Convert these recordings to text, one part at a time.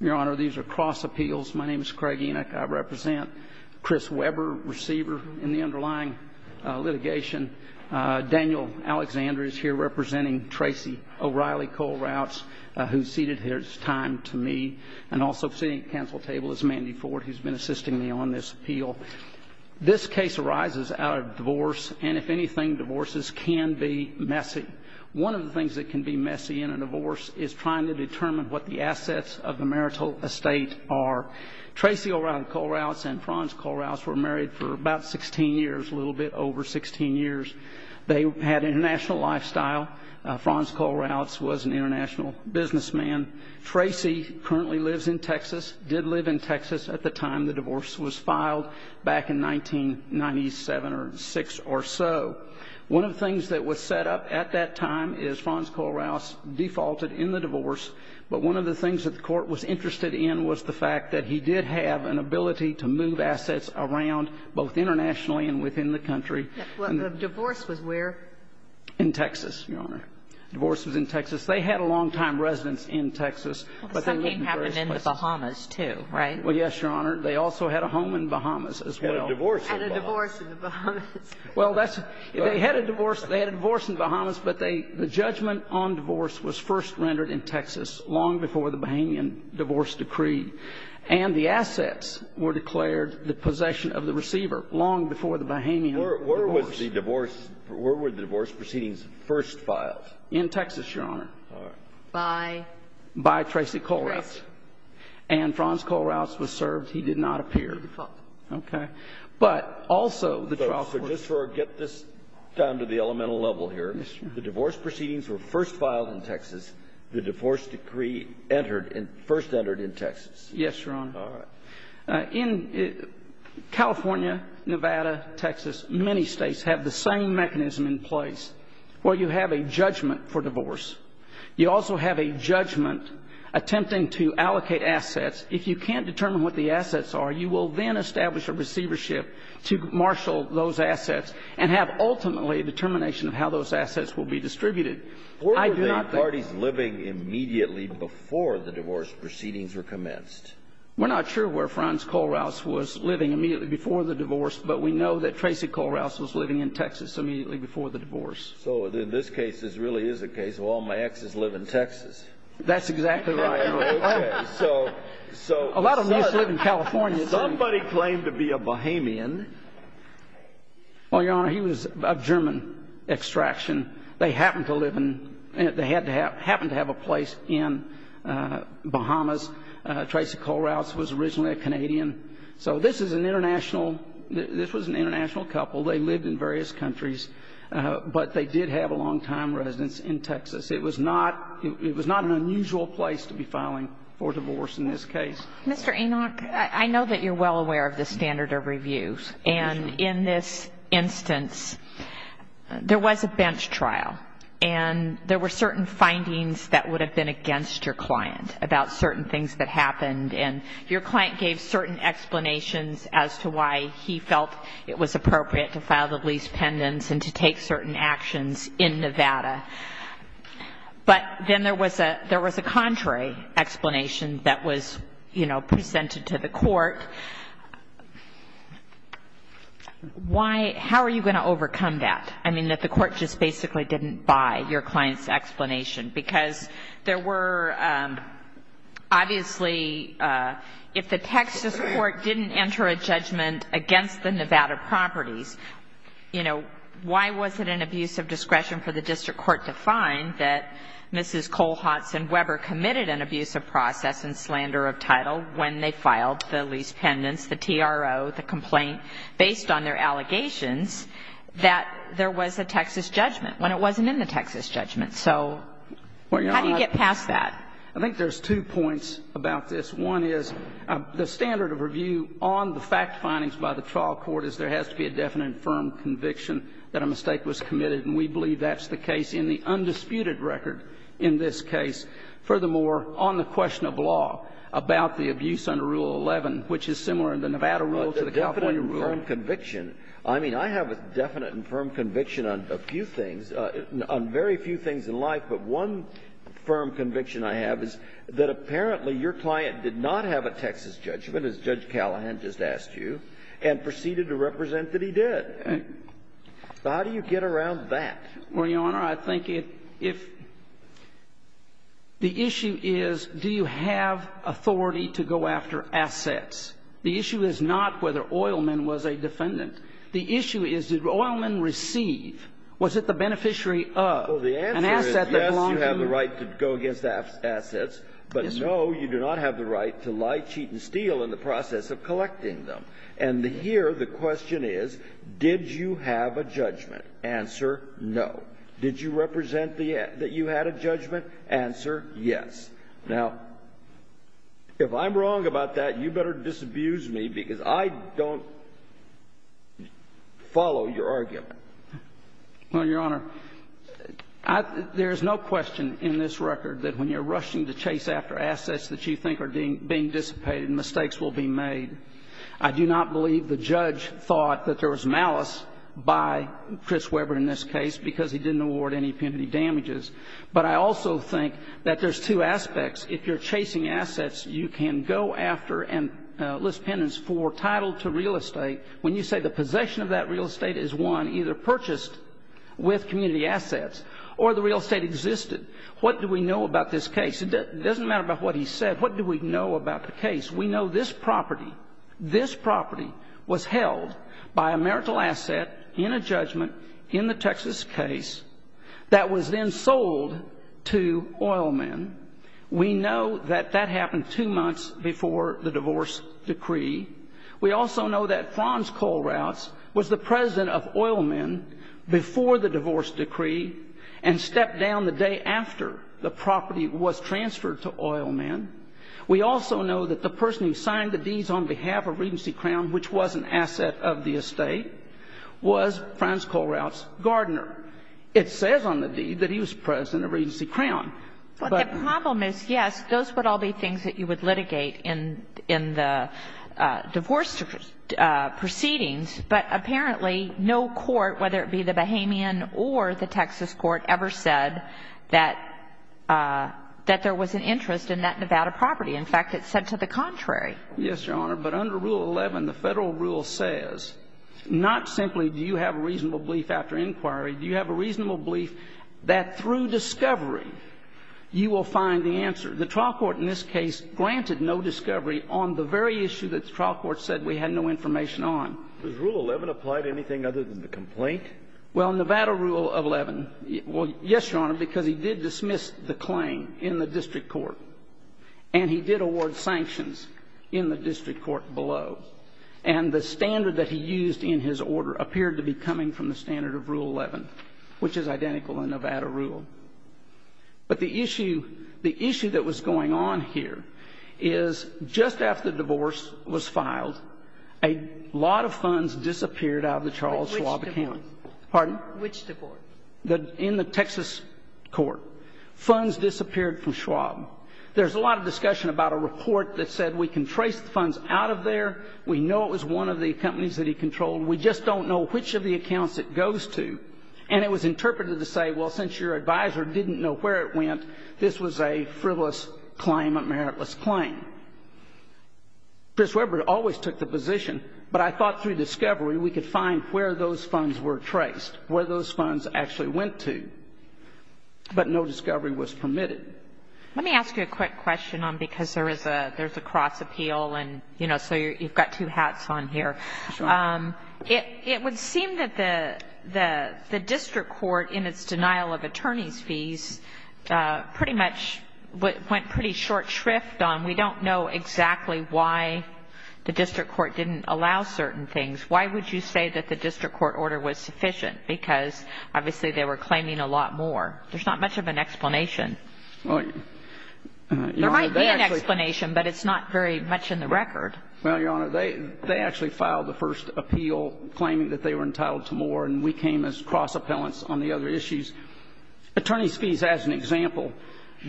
Your Honor, these are cross appeals. My name is Craig Enoch. I represent Chris Weber, receiver in the underlying litigation. Daniel Alexander is here representing Tracy O'Reilly Kohlrautz, who ceded his time to me. And also sitting at the council table is Mandy Ford, who's been assisting me on this appeal. This case arises out of divorce, and if anything, divorces can be messy. One of the things that can be messy in a divorce is trying to determine what the assets of the marital estate are. Tracy O'Reilly Kohlrautz and Franz Kohlrautz were married for about 16 years, a little bit over 16 years. They had an international lifestyle. Franz Kohlrautz was an international businessman. Tracy currently lives in Texas, did live in Texas at the time the divorce was filed back in 1997 or 6 or so. One of the things that was set up at that time is Franz Kohlrautz defaulted in the divorce, but one of the things that the court was interested in was the fact that he did have an ability to move assets around, both internationally and within the country. Well, the divorce was where? In Texas, Your Honor. Divorce was in Texas. They had a long-time residence in Texas, but they lived in various places. Something happened in the Bahamas, too, right? Well, yes, Your Honor. They also had a home in Bahamas as well. Had a divorce in the Bahamas. Well, they had a divorce in the Bahamas, but the judgment on divorce was first rendered in Texas long before the Bahamian divorce decreed. And the assets were declared the possession of the receiver long before the Bahamian divorce. Where were the divorce proceedings first filed? In Texas, Your Honor. By? By Tracy Kohlrautz. Tracy. And Franz Kohlrautz was served. He did not appear. Okay. But also the trial court. So just to get this down to the elemental level here. Yes, Your Honor. The divorce proceedings were first filed in Texas. The divorce decree first entered in Texas. Yes, Your Honor. All right. In California, Nevada, Texas, many states have the same mechanism in place where you have a judgment for divorce. You also have a judgment attempting to allocate assets. If you can't determine what the assets are, you will then establish a receivership to marshal those assets and have ultimately a determination of how those assets will be distributed. Where were the parties living immediately before the divorce proceedings were commenced? We're not sure where Franz Kohlrautz was living immediately before the divorce, but we know that Tracy Kohlrautz was living in Texas immediately before the divorce. So in this case, this really is a case of all my exes live in Texas. That's exactly right, Your Honor. Okay. So somebody claimed to be a Bahamian. Well, Your Honor, he was of German extraction. They happened to have a place in Bahamas. Tracy Kohlrautz was originally a Canadian. So this was an international couple. They lived in various countries, but they did have a long-time residence in Texas. It was not an unusual place to be filing for divorce in this case. Mr. Enoch, I know that you're well aware of the standard of reviews. And in this instance, there was a bench trial, and there were certain findings that would have been against your client about certain things that happened. And your client gave certain explanations as to why he felt it was appropriate to file the lease pendants and to take certain actions in Nevada. But then there was a contrary explanation that was, you know, presented to the court. How are you going to overcome that? I mean, that the court just basically didn't buy your client's explanation. Because there were, obviously, if the Texas court didn't enter a judgment against the Nevada properties, you know, why was it an abuse of discretion for the district court to find that Mrs. Kohlrautz and Weber committed an abuse of process and slander of title when they filed the lease pendants, the TRO, the complaint, based on their allegations that there was a Texas judgment when it wasn't in the Texas judgment? So how do you get past that? I think there's two points about this. One is the standard of review on the fact findings by the trial court is there has to be a definite and firm conviction that a mistake was committed. And we believe that's the case in the undisputed record in this case. Furthermore, on the question of law about the abuse under Rule 11, which is similar in the Nevada rule to the California rule. But the definite and firm conviction. I mean, I have a definite and firm conviction on a few things, on very few things in life. But one firm conviction I have is that apparently your client did not have a Texas judgment, as Judge Callahan just asked you, and proceeded to represent that he did. So how do you get around that? Well, Your Honor, I think if the issue is do you have authority to go after assets? The issue is not whether Oilman was a defendant. The issue is did Oilman receive? Was it the beneficiary of? Well, the answer is yes, you have the right to go against assets. But no, you do not have the right to lie, cheat, and steal in the process of collecting them. And here the question is, did you have a judgment? Answer, no. Did you represent that you had a judgment? Answer, yes. Now, if I'm wrong about that, you better disabuse me, because I don't follow your argument. Well, Your Honor, there is no question in this record that when you're rushing to chase after assets that you think are being dissipated, mistakes will be made. I do not believe the judge thought that there was malice by Chris Weber in this case because he didn't award any penalty damages. But I also think that there's two aspects. If you're chasing assets, you can go after and list penance for title to real estate when you say the possession of that real estate is one either purchased with community assets or the real estate existed. What do we know about this case? It doesn't matter about what he said. What do we know about the case? We know this property, this property was held by a marital asset in a judgment in the Texas case that was then sold to oil men. We know that that happened two months before the divorce decree. We also know that Franz Kollraths was the president of oil men before the divorce decree and stepped down the day after the property was transferred to oil men. We also know that the person who signed the deeds on behalf of Regency Crown, which was an asset of the estate, was Franz Kollraths Gardner. It says on the deed that he was president of Regency Crown. But the problem is, yes, those would all be things that you would litigate in the divorce proceedings, but apparently no court, whether it be the Bahamian or the Texas court, ever said that there was an interest in that Nevada property. In fact, it said to the contrary. Yes, Your Honor, but under Rule 11, the Federal rule says not simply do you have a reasonable belief after inquiry, do you have a reasonable belief that through discovery you will find the answer. The trial court in this case granted no discovery on the very issue that the trial court said we had no information on. Was Rule 11 applied to anything other than the complaint? Well, Nevada Rule 11, well, yes, Your Honor, because he did dismiss the claim in the district court, and he did award sanctions in the district court below. And the standard that he used in his order appeared to be coming from the standard of Rule 11, which is identical in Nevada rule. But the issue that was going on here is just after the divorce was filed, a lot of funds disappeared out of the Charles Schwab account. Which divorce? Pardon? Which divorce? In the Texas court. Funds disappeared from Schwab. There's a lot of discussion about a report that said we can trace the funds out of there, we know it was one of the companies that he controlled, we just don't know which of the accounts it goes to. And it was interpreted to say, well, since your advisor didn't know where it went, this was a frivolous claim, a meritless claim. Chris Webber always took the position, but I thought through discovery we could find where those funds were traced, where those funds actually went to. But no discovery was permitted. Let me ask you a quick question, because there is a cross appeal, and, you know, so you've got two hats on here. Sure. It would seem that the district court, in its denial of attorney's fees, pretty much went pretty short shrift on we don't know exactly why the district court didn't allow certain things. Why would you say that the district court order was sufficient? Because, obviously, they were claiming a lot more. There's not much of an explanation. There might be an explanation, but it's not very much in the record. Well, Your Honor, they actually filed the first appeal claiming that they were entitled to more, and we came as cross appellants on the other issues. Attorney's fees, as an example,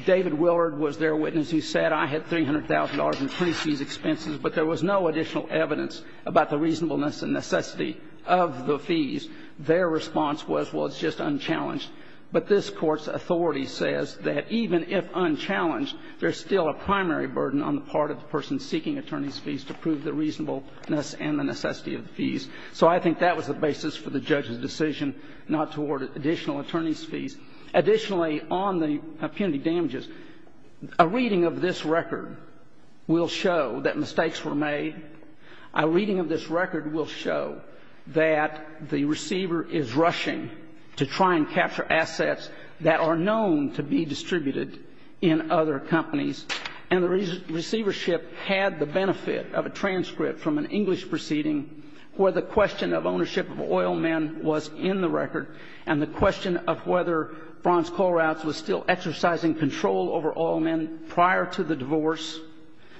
David Willard was their witness. He said, I had $300,000 in attorney's fees expenses, but there was no additional evidence about the reasonableness and necessity of the fees. Their response was, well, it's just unchallenged. But this Court's authority says that even if unchallenged, there's still a primary burden on the part of the person seeking attorney's fees to prove the reasonableness and the necessity of the fees. So I think that was the basis for the judge's decision not to award additional attorney's fees. Additionally, on the punitive damages, a reading of this record will show that mistakes were made. A reading of this record will show that the receiver is rushing to try and capture assets that are known to be distributed in other companies. And the receivership had the benefit of a transcript from an English proceeding where the question of ownership of oil men was in the record, and the question of whether Franz Kollraths was still exercising control over oil men prior to the divorce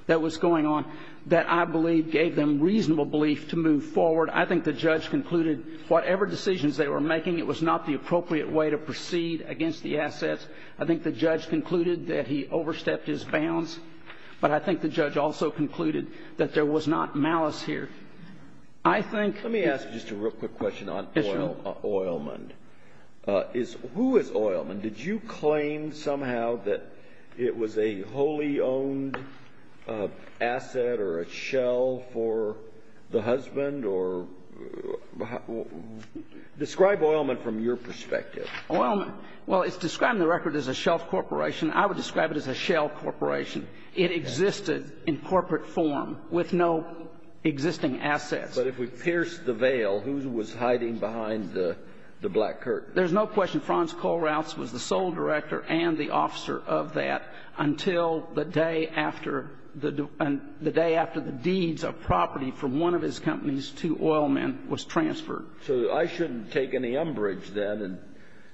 that was going on, that I believe gave them reasonable belief to move forward. I think the judge concluded whatever decisions they were making, it was not the appropriate way to proceed against the assets. I think the judge concluded that he overstepped his bounds. But I think the judge also concluded that there was not malice here. I think the ---- Let me ask just a real quick question on oil men. Who is oil men? Did you claim somehow that it was a wholly owned asset or a shell for the husband or ---- Describe oil men from your perspective. Well, it's described in the record as a shell corporation. I would describe it as a shell corporation. It existed in corporate form with no existing assets. But if we pierce the veil, who was hiding behind the black curtain? There's no question Franz Kollraths was the sole director and the officer of that until the day after the deeds of property from one of his companies to oil men was transferred. So I shouldn't take any umbrage then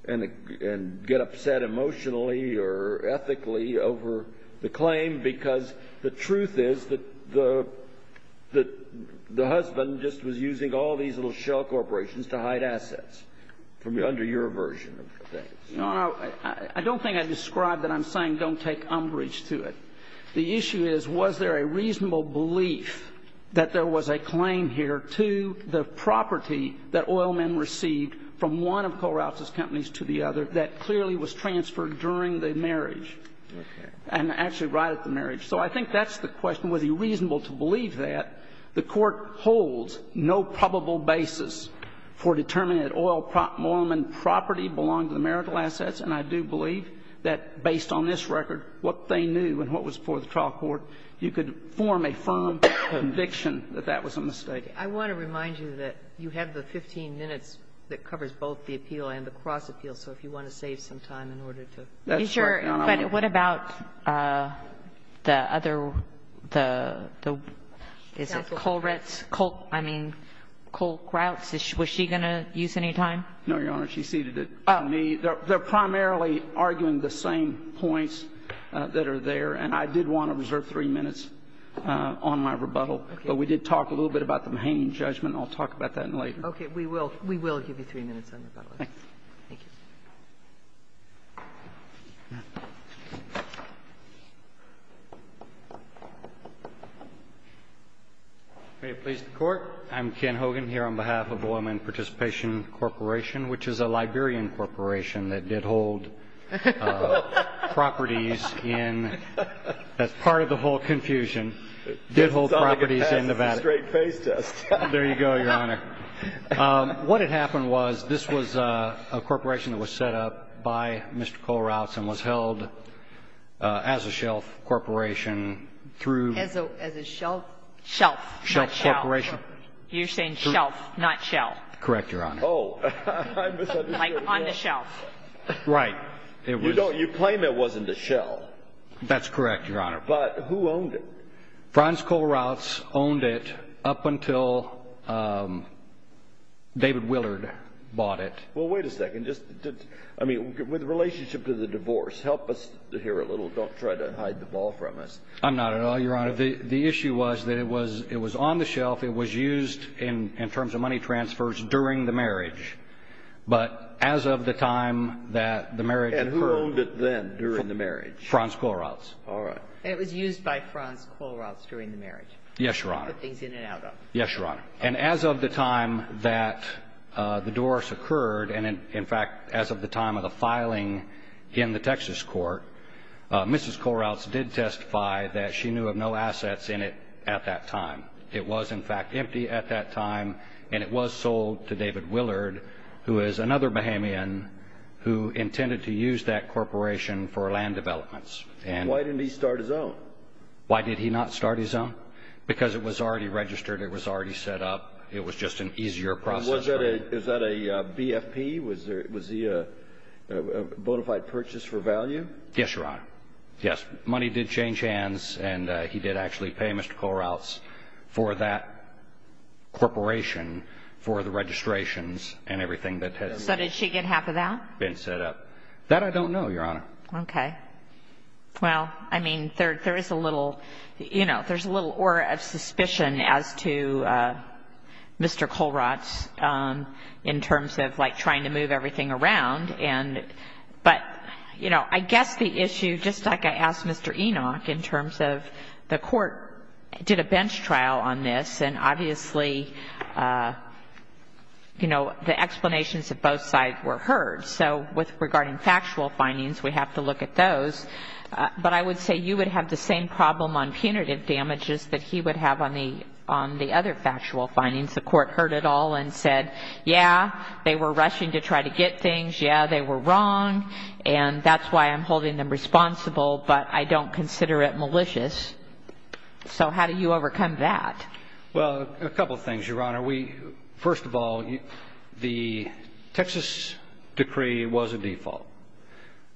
and get upset emotionally or ethically over the claim because the truth is that the husband just was using all these little shell corporations to hide assets from under your version of things. No, no. I don't think I described it. I'm saying don't take umbrage to it. The issue is, was there a reasonable belief that there was a claim here to the property that oil men received from one of Kollraths' companies to the other that clearly was transferred during the marriage and actually right at the marriage? So I think that's the question, was it reasonable to believe that. The Court holds no probable basis for determining that oil men property belonged to the marital assets, and I do believe that based on this record, what they knew and what was before the trial court, you could form a firm conviction that that was a mistake. I want to remind you that you have the 15 minutes that covers both the appeal and the cross appeal. So if you want to save some time in order to. But what about the other, the Kollraths, I mean, Kollraths, was she going to use any time? No, Your Honor. She ceded it to me. They're primarily arguing the same points that are there, and I did want to reserve three minutes on my rebuttal. But we did talk a little bit about the Mahaney judgment. I'll talk about that later. Okay. We will. We will give you three minutes on your rebuttal. Thank you. May it please the Court. I'm Ken Hogan here on behalf of Oilmen Participation Corporation, which is a Liberian corporation that did hold properties in as part of the whole confusion, did hold properties in Nevada. Straight face test. There you go, Your Honor. What had happened was this was a corporation that was set up by Mr. Kollraths and was held as a shelf corporation through. As a shelf. Shelf. Shelf corporation. You're saying shelf, not shell. Correct, Your Honor. Oh. I misunderstood. Like on the shelf. Right. It was. You claim it wasn't a shell. That's correct, Your Honor. But who owned it? Franz Kollraths owned it up until David Willard bought it. Well, wait a second. Just, I mean, with relationship to the divorce, help us here a little. Don't try to hide the ball from us. I'm not at all, Your Honor. The issue was that it was on the shelf. It was used in terms of money transfers during the marriage. But as of the time that the marriage occurred. And who owned it then during the marriage? Franz Kollraths. All right. And it was used by Franz Kollraths during the marriage. Yes, Your Honor. To put things in and out of. Yes, Your Honor. And as of the time that the divorce occurred. And, in fact, as of the time of the filing in the Texas court, Mrs. Kollraths did testify that she knew of no assets in it at that time. It was, in fact, empty at that time. And it was sold to David Willard, who is another Bahamian, who intended to use that corporation for land developments. And why didn't he start his own? Why did he not start his own? Because it was already registered. It was already set up. It was just an easier process. Was that a BFP? Was he a bona fide purchase for value? Yes, Your Honor. Yes, money did change hands. And he did actually pay Mr. Kollraths for that corporation for the registrations and everything that has been set up. So did she get half of that? That I don't know, Your Honor. Okay. Well, I mean, there is a little, you know, there's a little aura of suspicion as to Mr. Kollraths in terms of, like, trying to move everything around. But, you know, I guess the issue, just like I asked Mr. Enoch, in terms of the Court did a bench trial on this, and obviously, you know, the explanations of both sides were heard. So regarding factual findings, we have to look at those. But I would say you would have the same problem on punitive damages that he would have on the other factual findings. The Court heard it all and said, yeah, they were rushing to try to get things, yeah, they were wrong, and that's why I'm holding them responsible, but I don't consider it malicious. So how do you overcome that? Well, a couple things, Your Honor. First of all, the Texas decree was a default.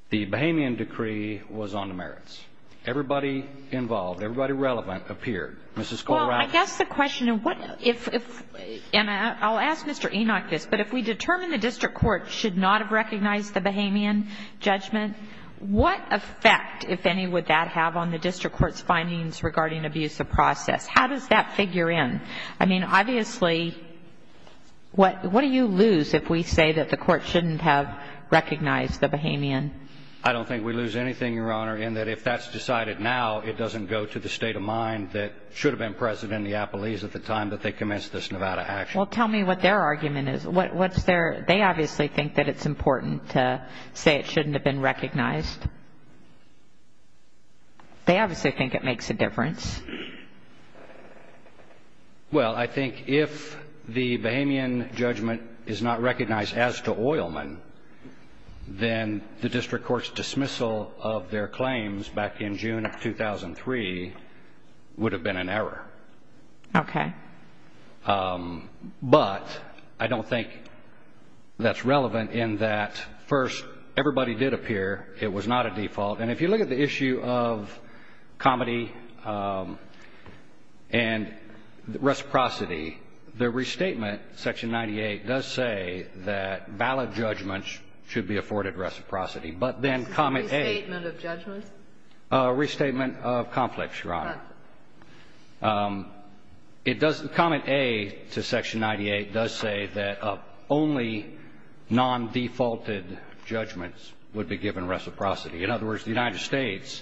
The Bahamian decree was on the merits. Everybody involved, everybody relevant appeared. Mrs. Kollraths. Well, I guess the question, and I'll ask Mr. Enoch this, but if we determine the district court should not have recognized the Bahamian judgment, what effect, if any, would that have on the district court's findings regarding abuse of process? How does that figure in? I mean, obviously, what do you lose if we say that the court shouldn't have recognized the Bahamian? I don't think we lose anything, Your Honor, in that if that's decided now it doesn't go to the state of mind that should have been present in the appellees at the time that they commenced this Nevada action. Well, tell me what their argument is. They obviously think that it's important to say it shouldn't have been recognized. They obviously think it makes a difference. Well, I think if the Bahamian judgment is not recognized as to Oilman, then the district court's dismissal of their claims back in June of 2003 would have been an error. Okay. But I don't think that's relevant in that, first, everybody did appear. It was not a default. And if you look at the issue of comity and reciprocity, the restatement, Section 98, does say that valid judgments should be afforded reciprocity, but then comment A. Restatement of judgments? Restatement of conflicts, Your Honor. It doesn't. Comment A to Section 98 does say that only non-defaulted judgments would be given reciprocity. In other words, the United States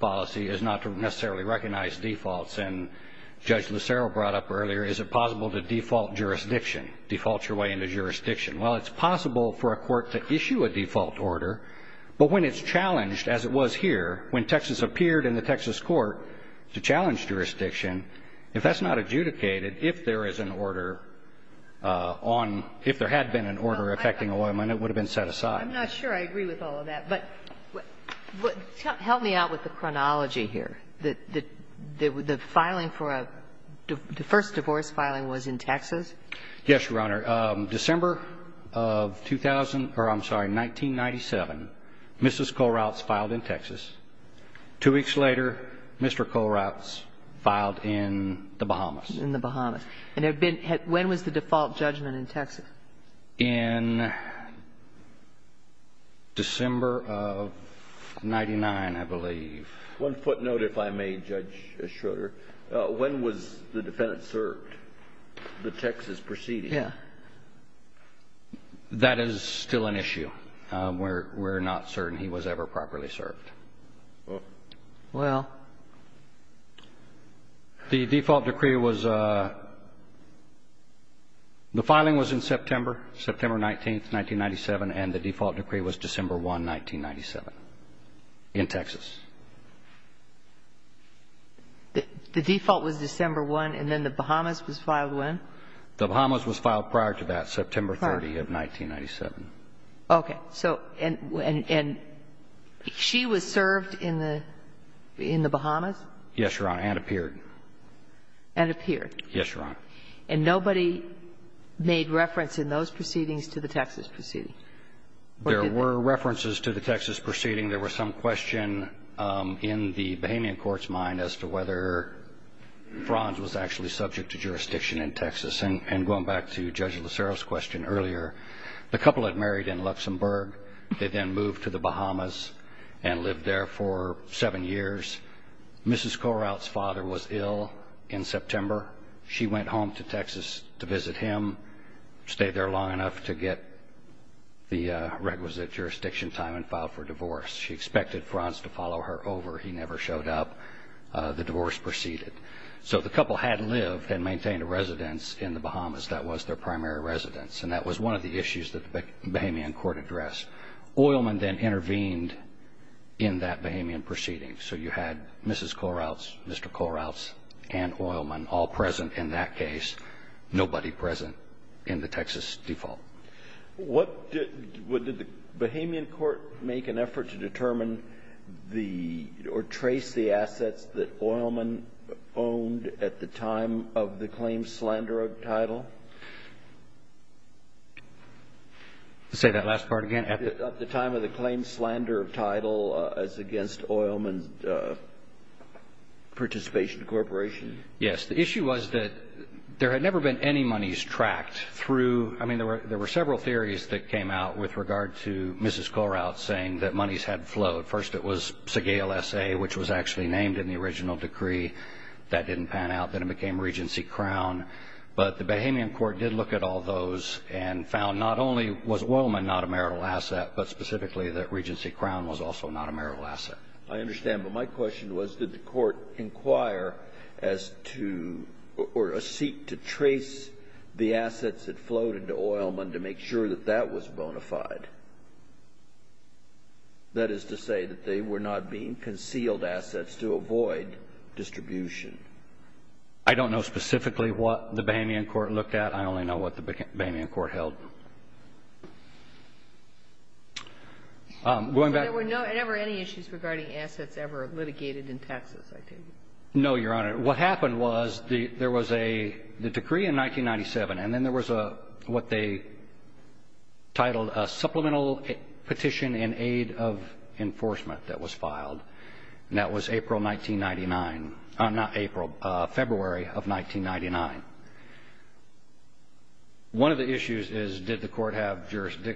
policy is not to necessarily recognize defaults. And Judge Lucero brought up earlier, is it possible to default jurisdiction, default your way into jurisdiction? Well, it's possible for a court to issue a default order, but when it's challenged, as it was here, when Texas appeared in the Texas court to challenge jurisdiction, if that's not adjudicated, if there is an order on – if there had been an order affecting Oilman, it would have been set aside. I'm not sure I agree with all of that. But help me out with the chronology here. The filing for a – the first divorce filing was in Texas? Yes, Your Honor. December of 2000 – or, I'm sorry, 1997, Mrs. Kohlrautz filed in Texas. Two weeks later, Mr. Kohlrautz filed in the Bahamas. In the Bahamas. And there had been – when was the default judgment in Texas? In December of 1999, I believe. One footnote, if I may, Judge Schroeder. When was the defendant served, the Texas proceeding? Yeah. That is still an issue. We're not certain he was ever properly served. Well. The default decree was – the filing was in September, September 19, 1997, and the default decree was December 1, 1997, in Texas. The default was December 1, and then the Bahamas was filed when? The Bahamas was filed prior to that, September 30 of 1997. Okay. So – and she was served in the – in the Bahamas? Yes, Your Honor. And appeared. And appeared. Yes, Your Honor. And nobody made reference in those proceedings to the Texas proceeding? There were references to the Texas proceeding. There was some question in the Bahamian court's mind as to whether Franz was actually subject to jurisdiction in Texas. And going back to Judge Lucero's question earlier, the couple had married in Luxembourg. They then moved to the Bahamas and lived there for seven years. Mrs. Corout's father was ill in September. She went home to Texas to visit him, stayed there long enough to get the requisite jurisdiction time and filed for divorce. She expected Franz to follow her over. He never showed up. The divorce proceeded. So the couple had lived and maintained a residence in the Bahamas. That was their primary residence. And that was one of the issues that the Bahamian court addressed. Oilman then intervened in that Bahamian proceeding. So you had Mrs. Corout's, Mr. Corout's, and Oilman all present in that case, nobody present in the Texas default. What did the Bahamian court make an effort to determine the or trace the assets that Oilman owned at the time of the claim slander of title? Say that last part again. At the time of the claim slander of title as against Oilman's participation corporation? Yes. The issue was that there had never been any monies tracked through I mean, there were several theories that came out with regard to Mrs. Corout saying that monies had flowed. First, it was Segale S.A., which was actually named in the original decree. That didn't pan out. Then it became Regency Crown. But the Bahamian court did look at all those and found not only was Oilman not a marital asset, but specifically that Regency Crown was also not a marital asset. I understand. But my question was did the court inquire as to or seek to trace the assets that flowed into Oilman to make sure that that was bona fide? That is to say that they were not being concealed assets to avoid distribution. I don't know specifically what the Bahamian court looked at. I only know what the Bahamian court held. So there were never any issues regarding assets ever litigated in Texas, I take it? No, Your Honor. What happened was there was a decree in 1997, and then there was what they titled a Supplemental Petition in Aid of Enforcement that was filed. And that was April 1999, not April, February of 1999. One of the issues is did the court have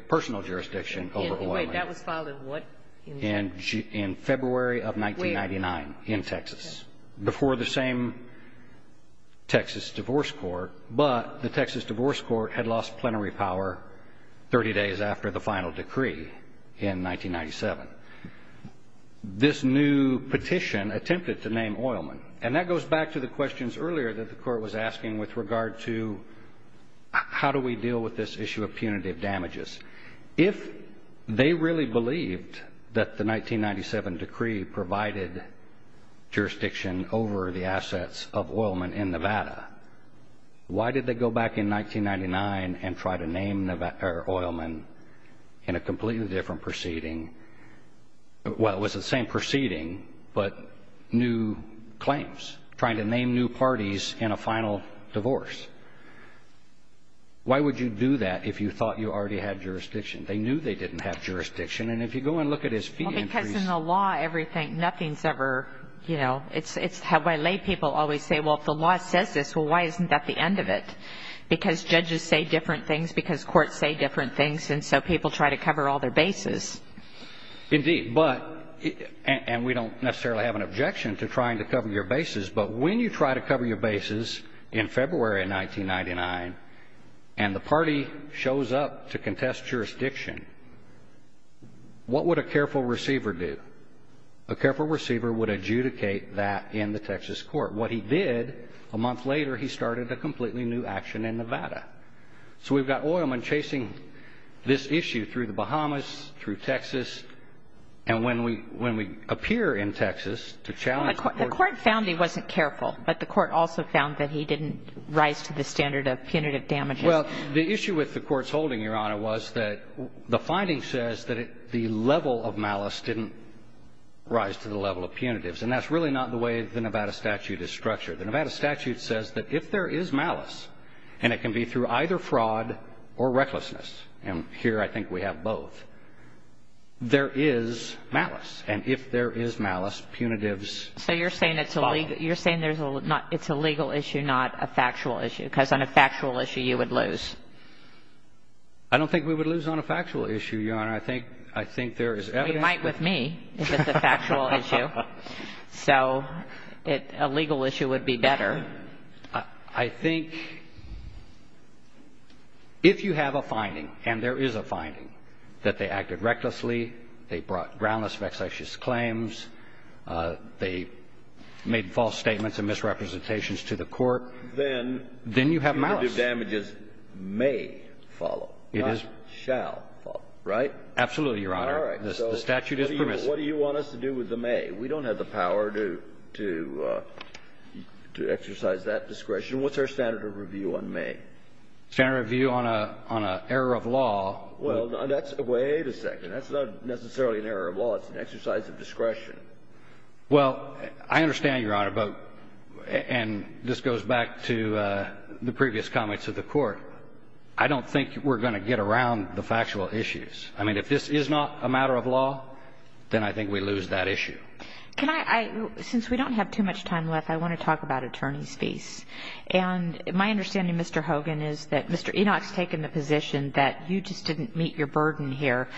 personal jurisdiction over Oilman? Wait. That was filed in what? In February of 1999 in Texas, before the same Texas Divorce Court. But the Texas Divorce Court had lost plenary power 30 days after the final decree in 1997. This new petition attempted to name Oilman. And that goes back to the questions earlier that the court was asking with regard to how do we deal with this issue of punitive damages. If they really believed that the 1997 decree provided jurisdiction over the assets of Oilman in Nevada, why did they go back in 1999 and try to name Oilman in a completely different proceeding? Well, it was the same proceeding, but new claims, trying to name new parties in a final divorce. Why would you do that if you thought you already had jurisdiction? They knew they didn't have jurisdiction. And if you go and look at his fee entries. Well, because in the law, everything, nothing's ever, you know, it's how my lay people always say, well, if the law says this, well, why isn't that the end of it? Because judges say different things because courts say different things, and so people try to cover all their bases. Indeed, but, and we don't necessarily have an objection to trying to cover your bases, but when you try to cover your bases in February of 1999 and the party shows up to contest jurisdiction, what would a careful receiver do? A careful receiver would adjudicate that in the Texas court. What he did a month later, he started a completely new action in Nevada. So we've got oilmen chasing this issue through the Bahamas, through Texas, and when we appear in Texas to challenge the court. The court found he wasn't careful, but the court also found that he didn't rise to the standard of punitive damages. Well, the issue with the court's holding, Your Honor, was that the finding says that the level of malice didn't rise to the level of punitives, and that's really not the way the Nevada statute is structured. The Nevada statute says that if there is malice, and it can be through either fraud or recklessness, and here I think we have both, there is malice. And if there is malice, punitives fall. So you're saying it's a legal issue, not a factual issue, because on a factual issue you would lose. I don't think we would lose on a factual issue, Your Honor. I think there is evidence. Well, you might with me if it's a factual issue. So a legal issue would be better. I think if you have a finding, and there is a finding, that they acted recklessly, they brought groundless vexatious claims, they made false statements and misrepresentations to the court, then you have malice. Then punitive damages may follow, not shall follow, right? Absolutely, Your Honor. All right. The statute is permissive. But what do you want us to do with the may? We don't have the power to exercise that discretion. What's our standard of review on may? Standard of review on an error of law. Well, that's the way to say it. That's not necessarily an error of law. It's an exercise of discretion. Well, I understand, Your Honor, but, and this goes back to the previous comments of the Court, I don't think we're going to get around the factual issues. I mean, if this is not a matter of law, then I think we lose that issue. Can I, since we don't have too much time left, I want to talk about attorney's fees. And my understanding, Mr. Hogan, is that Mr. Enoch's taken the position that you just didn't meet your burden here.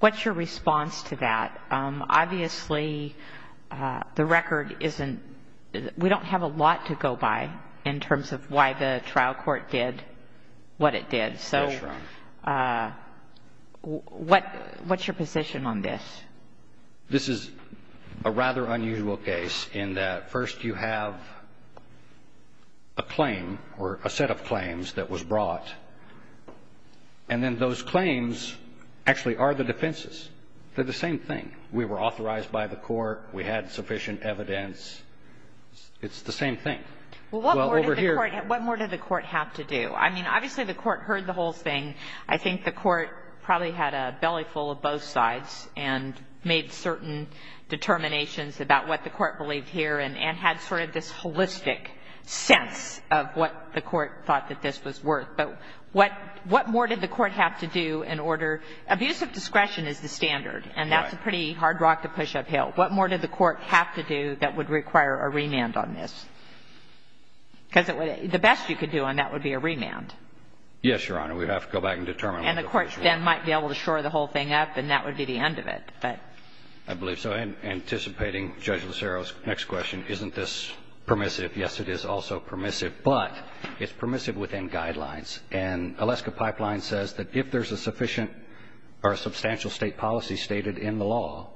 What's your response to that? Obviously, the record isn't, we don't have a lot to go by in terms of why the trial court did what it did. So what's your position on this? This is a rather unusual case in that first you have a claim or a set of claims that was brought, and then those claims actually are the defenses. They're the same thing. We were authorized by the Court. We had sufficient evidence. It's the same thing. Well, over here What more did the Court have to do? I mean, obviously, the Court heard the whole thing. I think the Court probably had a belly full of both sides and made certain determinations about what the Court believed here and had sort of this holistic sense of what the Court thought that this was worth. But what more did the Court have to do in order? Abusive discretion is the standard, and that's a pretty hard rock to push uphill. What more did the Court have to do that would require a remand on this? Because the best you could do on that would be a remand. Yes, Your Honor. We'd have to go back and determine. And the courts then might be able to shore the whole thing up, and that would be the end of it. I believe so. Anticipating Judge Lucero's next question, isn't this permissive? Yes, it is also permissive, but it's permissive within guidelines. And Alaska Pipeline says that if there's a sufficient or a substantial state policy stated in the law,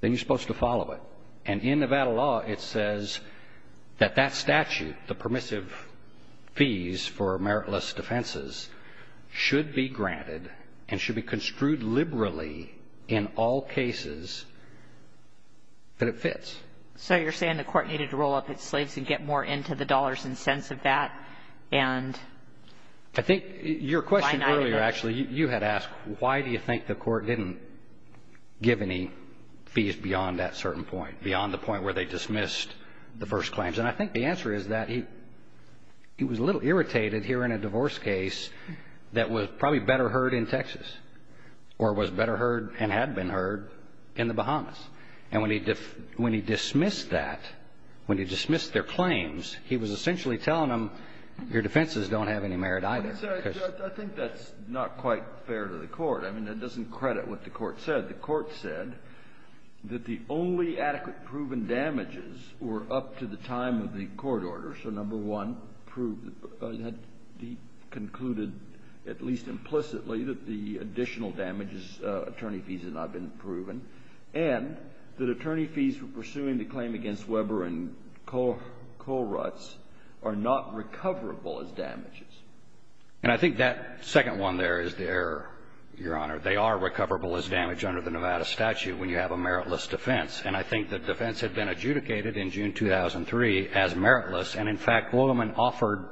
then you're supposed to follow it. And in Nevada law, it says that that statute, the permissive fees for meritless defenses, should be granted and should be construed liberally in all cases that it fits. So you're saying the Court needed to roll up its sleeves and get more into the dollars and cents of that, and why not? I think your question earlier, actually, you had asked, why do you think the Court didn't give any fees beyond that certain point, beyond the point where they dismissed the first claims? And I think the answer is that he was a little irritated hearing a divorce case that was probably better heard in Texas or was better heard and had been heard in the Bahamas. And when he dismissed that, when he dismissed their claims, he was essentially telling them, your defenses don't have any merit either. I think that's not quite fair to the Court. I mean, that doesn't credit what the Court said. The Court said that the only adequate proven damages were up to the time of the court order. So, number one, prove that he concluded, at least implicitly, that the additional damages, attorney fees, had not been proven, and that attorney fees for pursuing the claim against Weber and Kohlrutz are not recoverable as damages. And I think that second one there is the error, Your Honor. They are recoverable as damage under the Nevada statute when you have a meritless defense. And I think the defense had been adjudicated in June 2003 as meritless. And, in fact, William and offered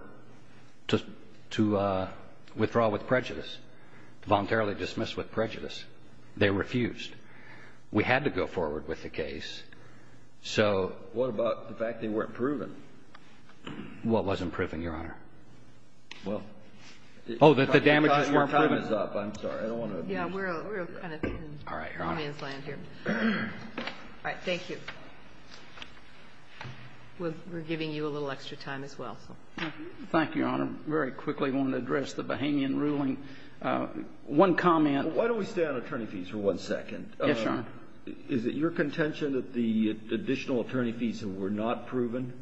to withdraw with prejudice, voluntarily dismiss with prejudice. They refused. We had to go forward with the case. So ---- What about the fact they weren't proven? Well, it wasn't proven, Your Honor. Well ---- Oh, that the damages weren't proven. Your time is up. I'm sorry. I don't want to ---- Yeah, we're kind of in Hermann's land here. All right. Thank you. We're giving you a little extra time as well. Thank you, Your Honor. Very quickly, I want to address the Bahamian ruling. One comment ---- Why don't we stay on attorney fees for one second? Yes, Your Honor. Is it your contention that the additional attorney fees were not proven?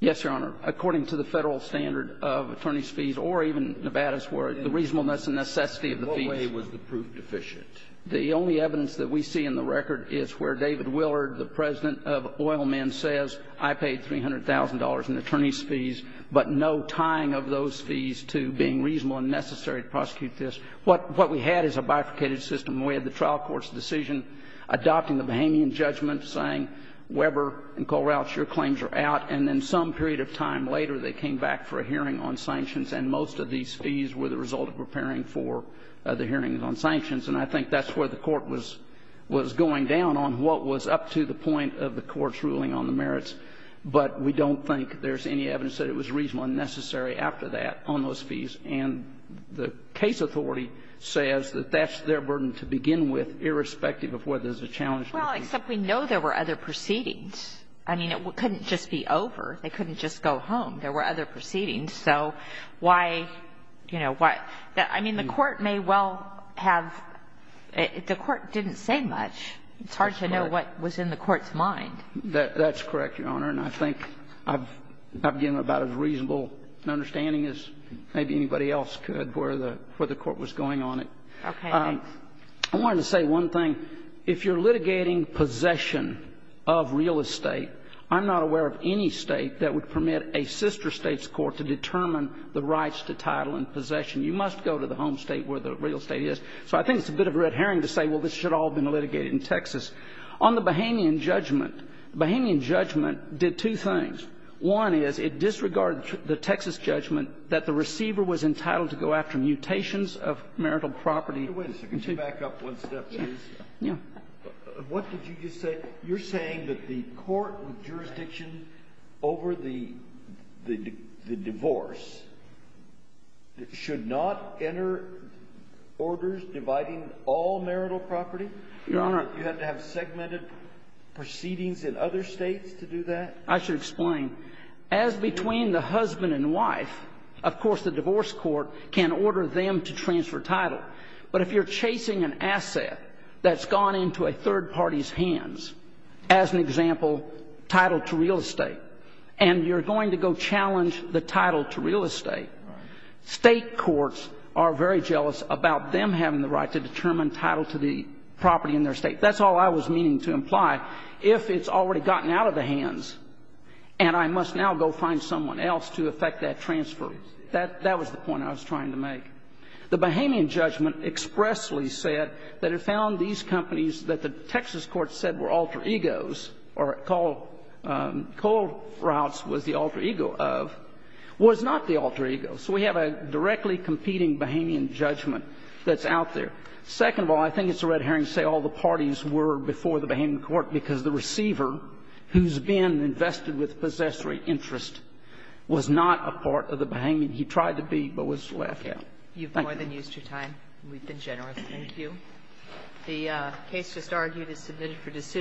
Yes, Your Honor. According to the Federal standard of attorney's fees, or even Nevada's, where the reasonableness and necessity of the fees ---- In what way was the proof deficient? The only evidence that we see in the record is where David Willard, the President of Oil Men, says, I paid $300,000 in attorney's fees, but no tying of those fees to being reasonable and necessary to prosecute this. What we had is a bifurcated system. We had the trial court's decision adopting the Bahamian judgment, saying, Weber and Colroutz, your claims are out. And then some period of time later, they came back for a hearing on sanctions, and most of these fees were the result of preparing for the hearings on sanctions. And I think that's where the Court was going down on what was up to the point of the Court's ruling on the merits. But we don't think there's any evidence that it was reasonable and necessary after that on those fees. And the case authority says that that's their burden to begin with, irrespective of whether there's a challenge. Well, except we know there were other proceedings. I mean, it couldn't just be over. They couldn't just go home. There were other proceedings. So why, you know, why? I mean, the Court may well have – the Court didn't say much. It's hard to know what was in the Court's mind. That's correct, Your Honor. And I think I've given about as reasonable an understanding as maybe anybody else could where the Court was going on it. Okay. I wanted to say one thing. If you're litigating possession of real estate, I'm not aware of any State that would permit a sister State's court to determine the rights to title and possession. You must go to the home State where the real estate is. So I think it's a bit of a red herring to say, well, this should all have been litigated in Texas. On the Bahamian judgment, the Bahamian judgment did two things. One is it disregarded the Texas judgment that the receiver was entitled to go after mutations of marital property. Wait a second. Could you back up one step, please? Yeah. What did you just say? You're saying that the court with jurisdiction over the divorce should not enter orders dividing all marital property? Your Honor. You have to have segmented proceedings in other States to do that? I should explain. As between the husband and wife, of course the divorce court can order them to transfer title. But if you're chasing an asset that's gone into a third party's hands, as an example, title to real estate, and you're going to go challenge the title to real estate, State courts are very jealous about them having the right to determine title to the property in their State. That's all I was meaning to imply. If it's already gotten out of the hands and I must now go find someone else to effect that transfer, that was the point I was trying to make. The Bahamian judgment expressly said that it found these companies that the Texas court said were alter egos, or Cole Routes was the alter ego of, was not the alter ego. So we have a directly competing Bahamian judgment that's out there. Second of all, I think it's a red herring to say all the parties were before the Bahamian court because the receiver who's been invested with possessory interest was not a part of the Bahamian. He tried to be, but was left out. Thank you. You've more than used your time. We've been generous.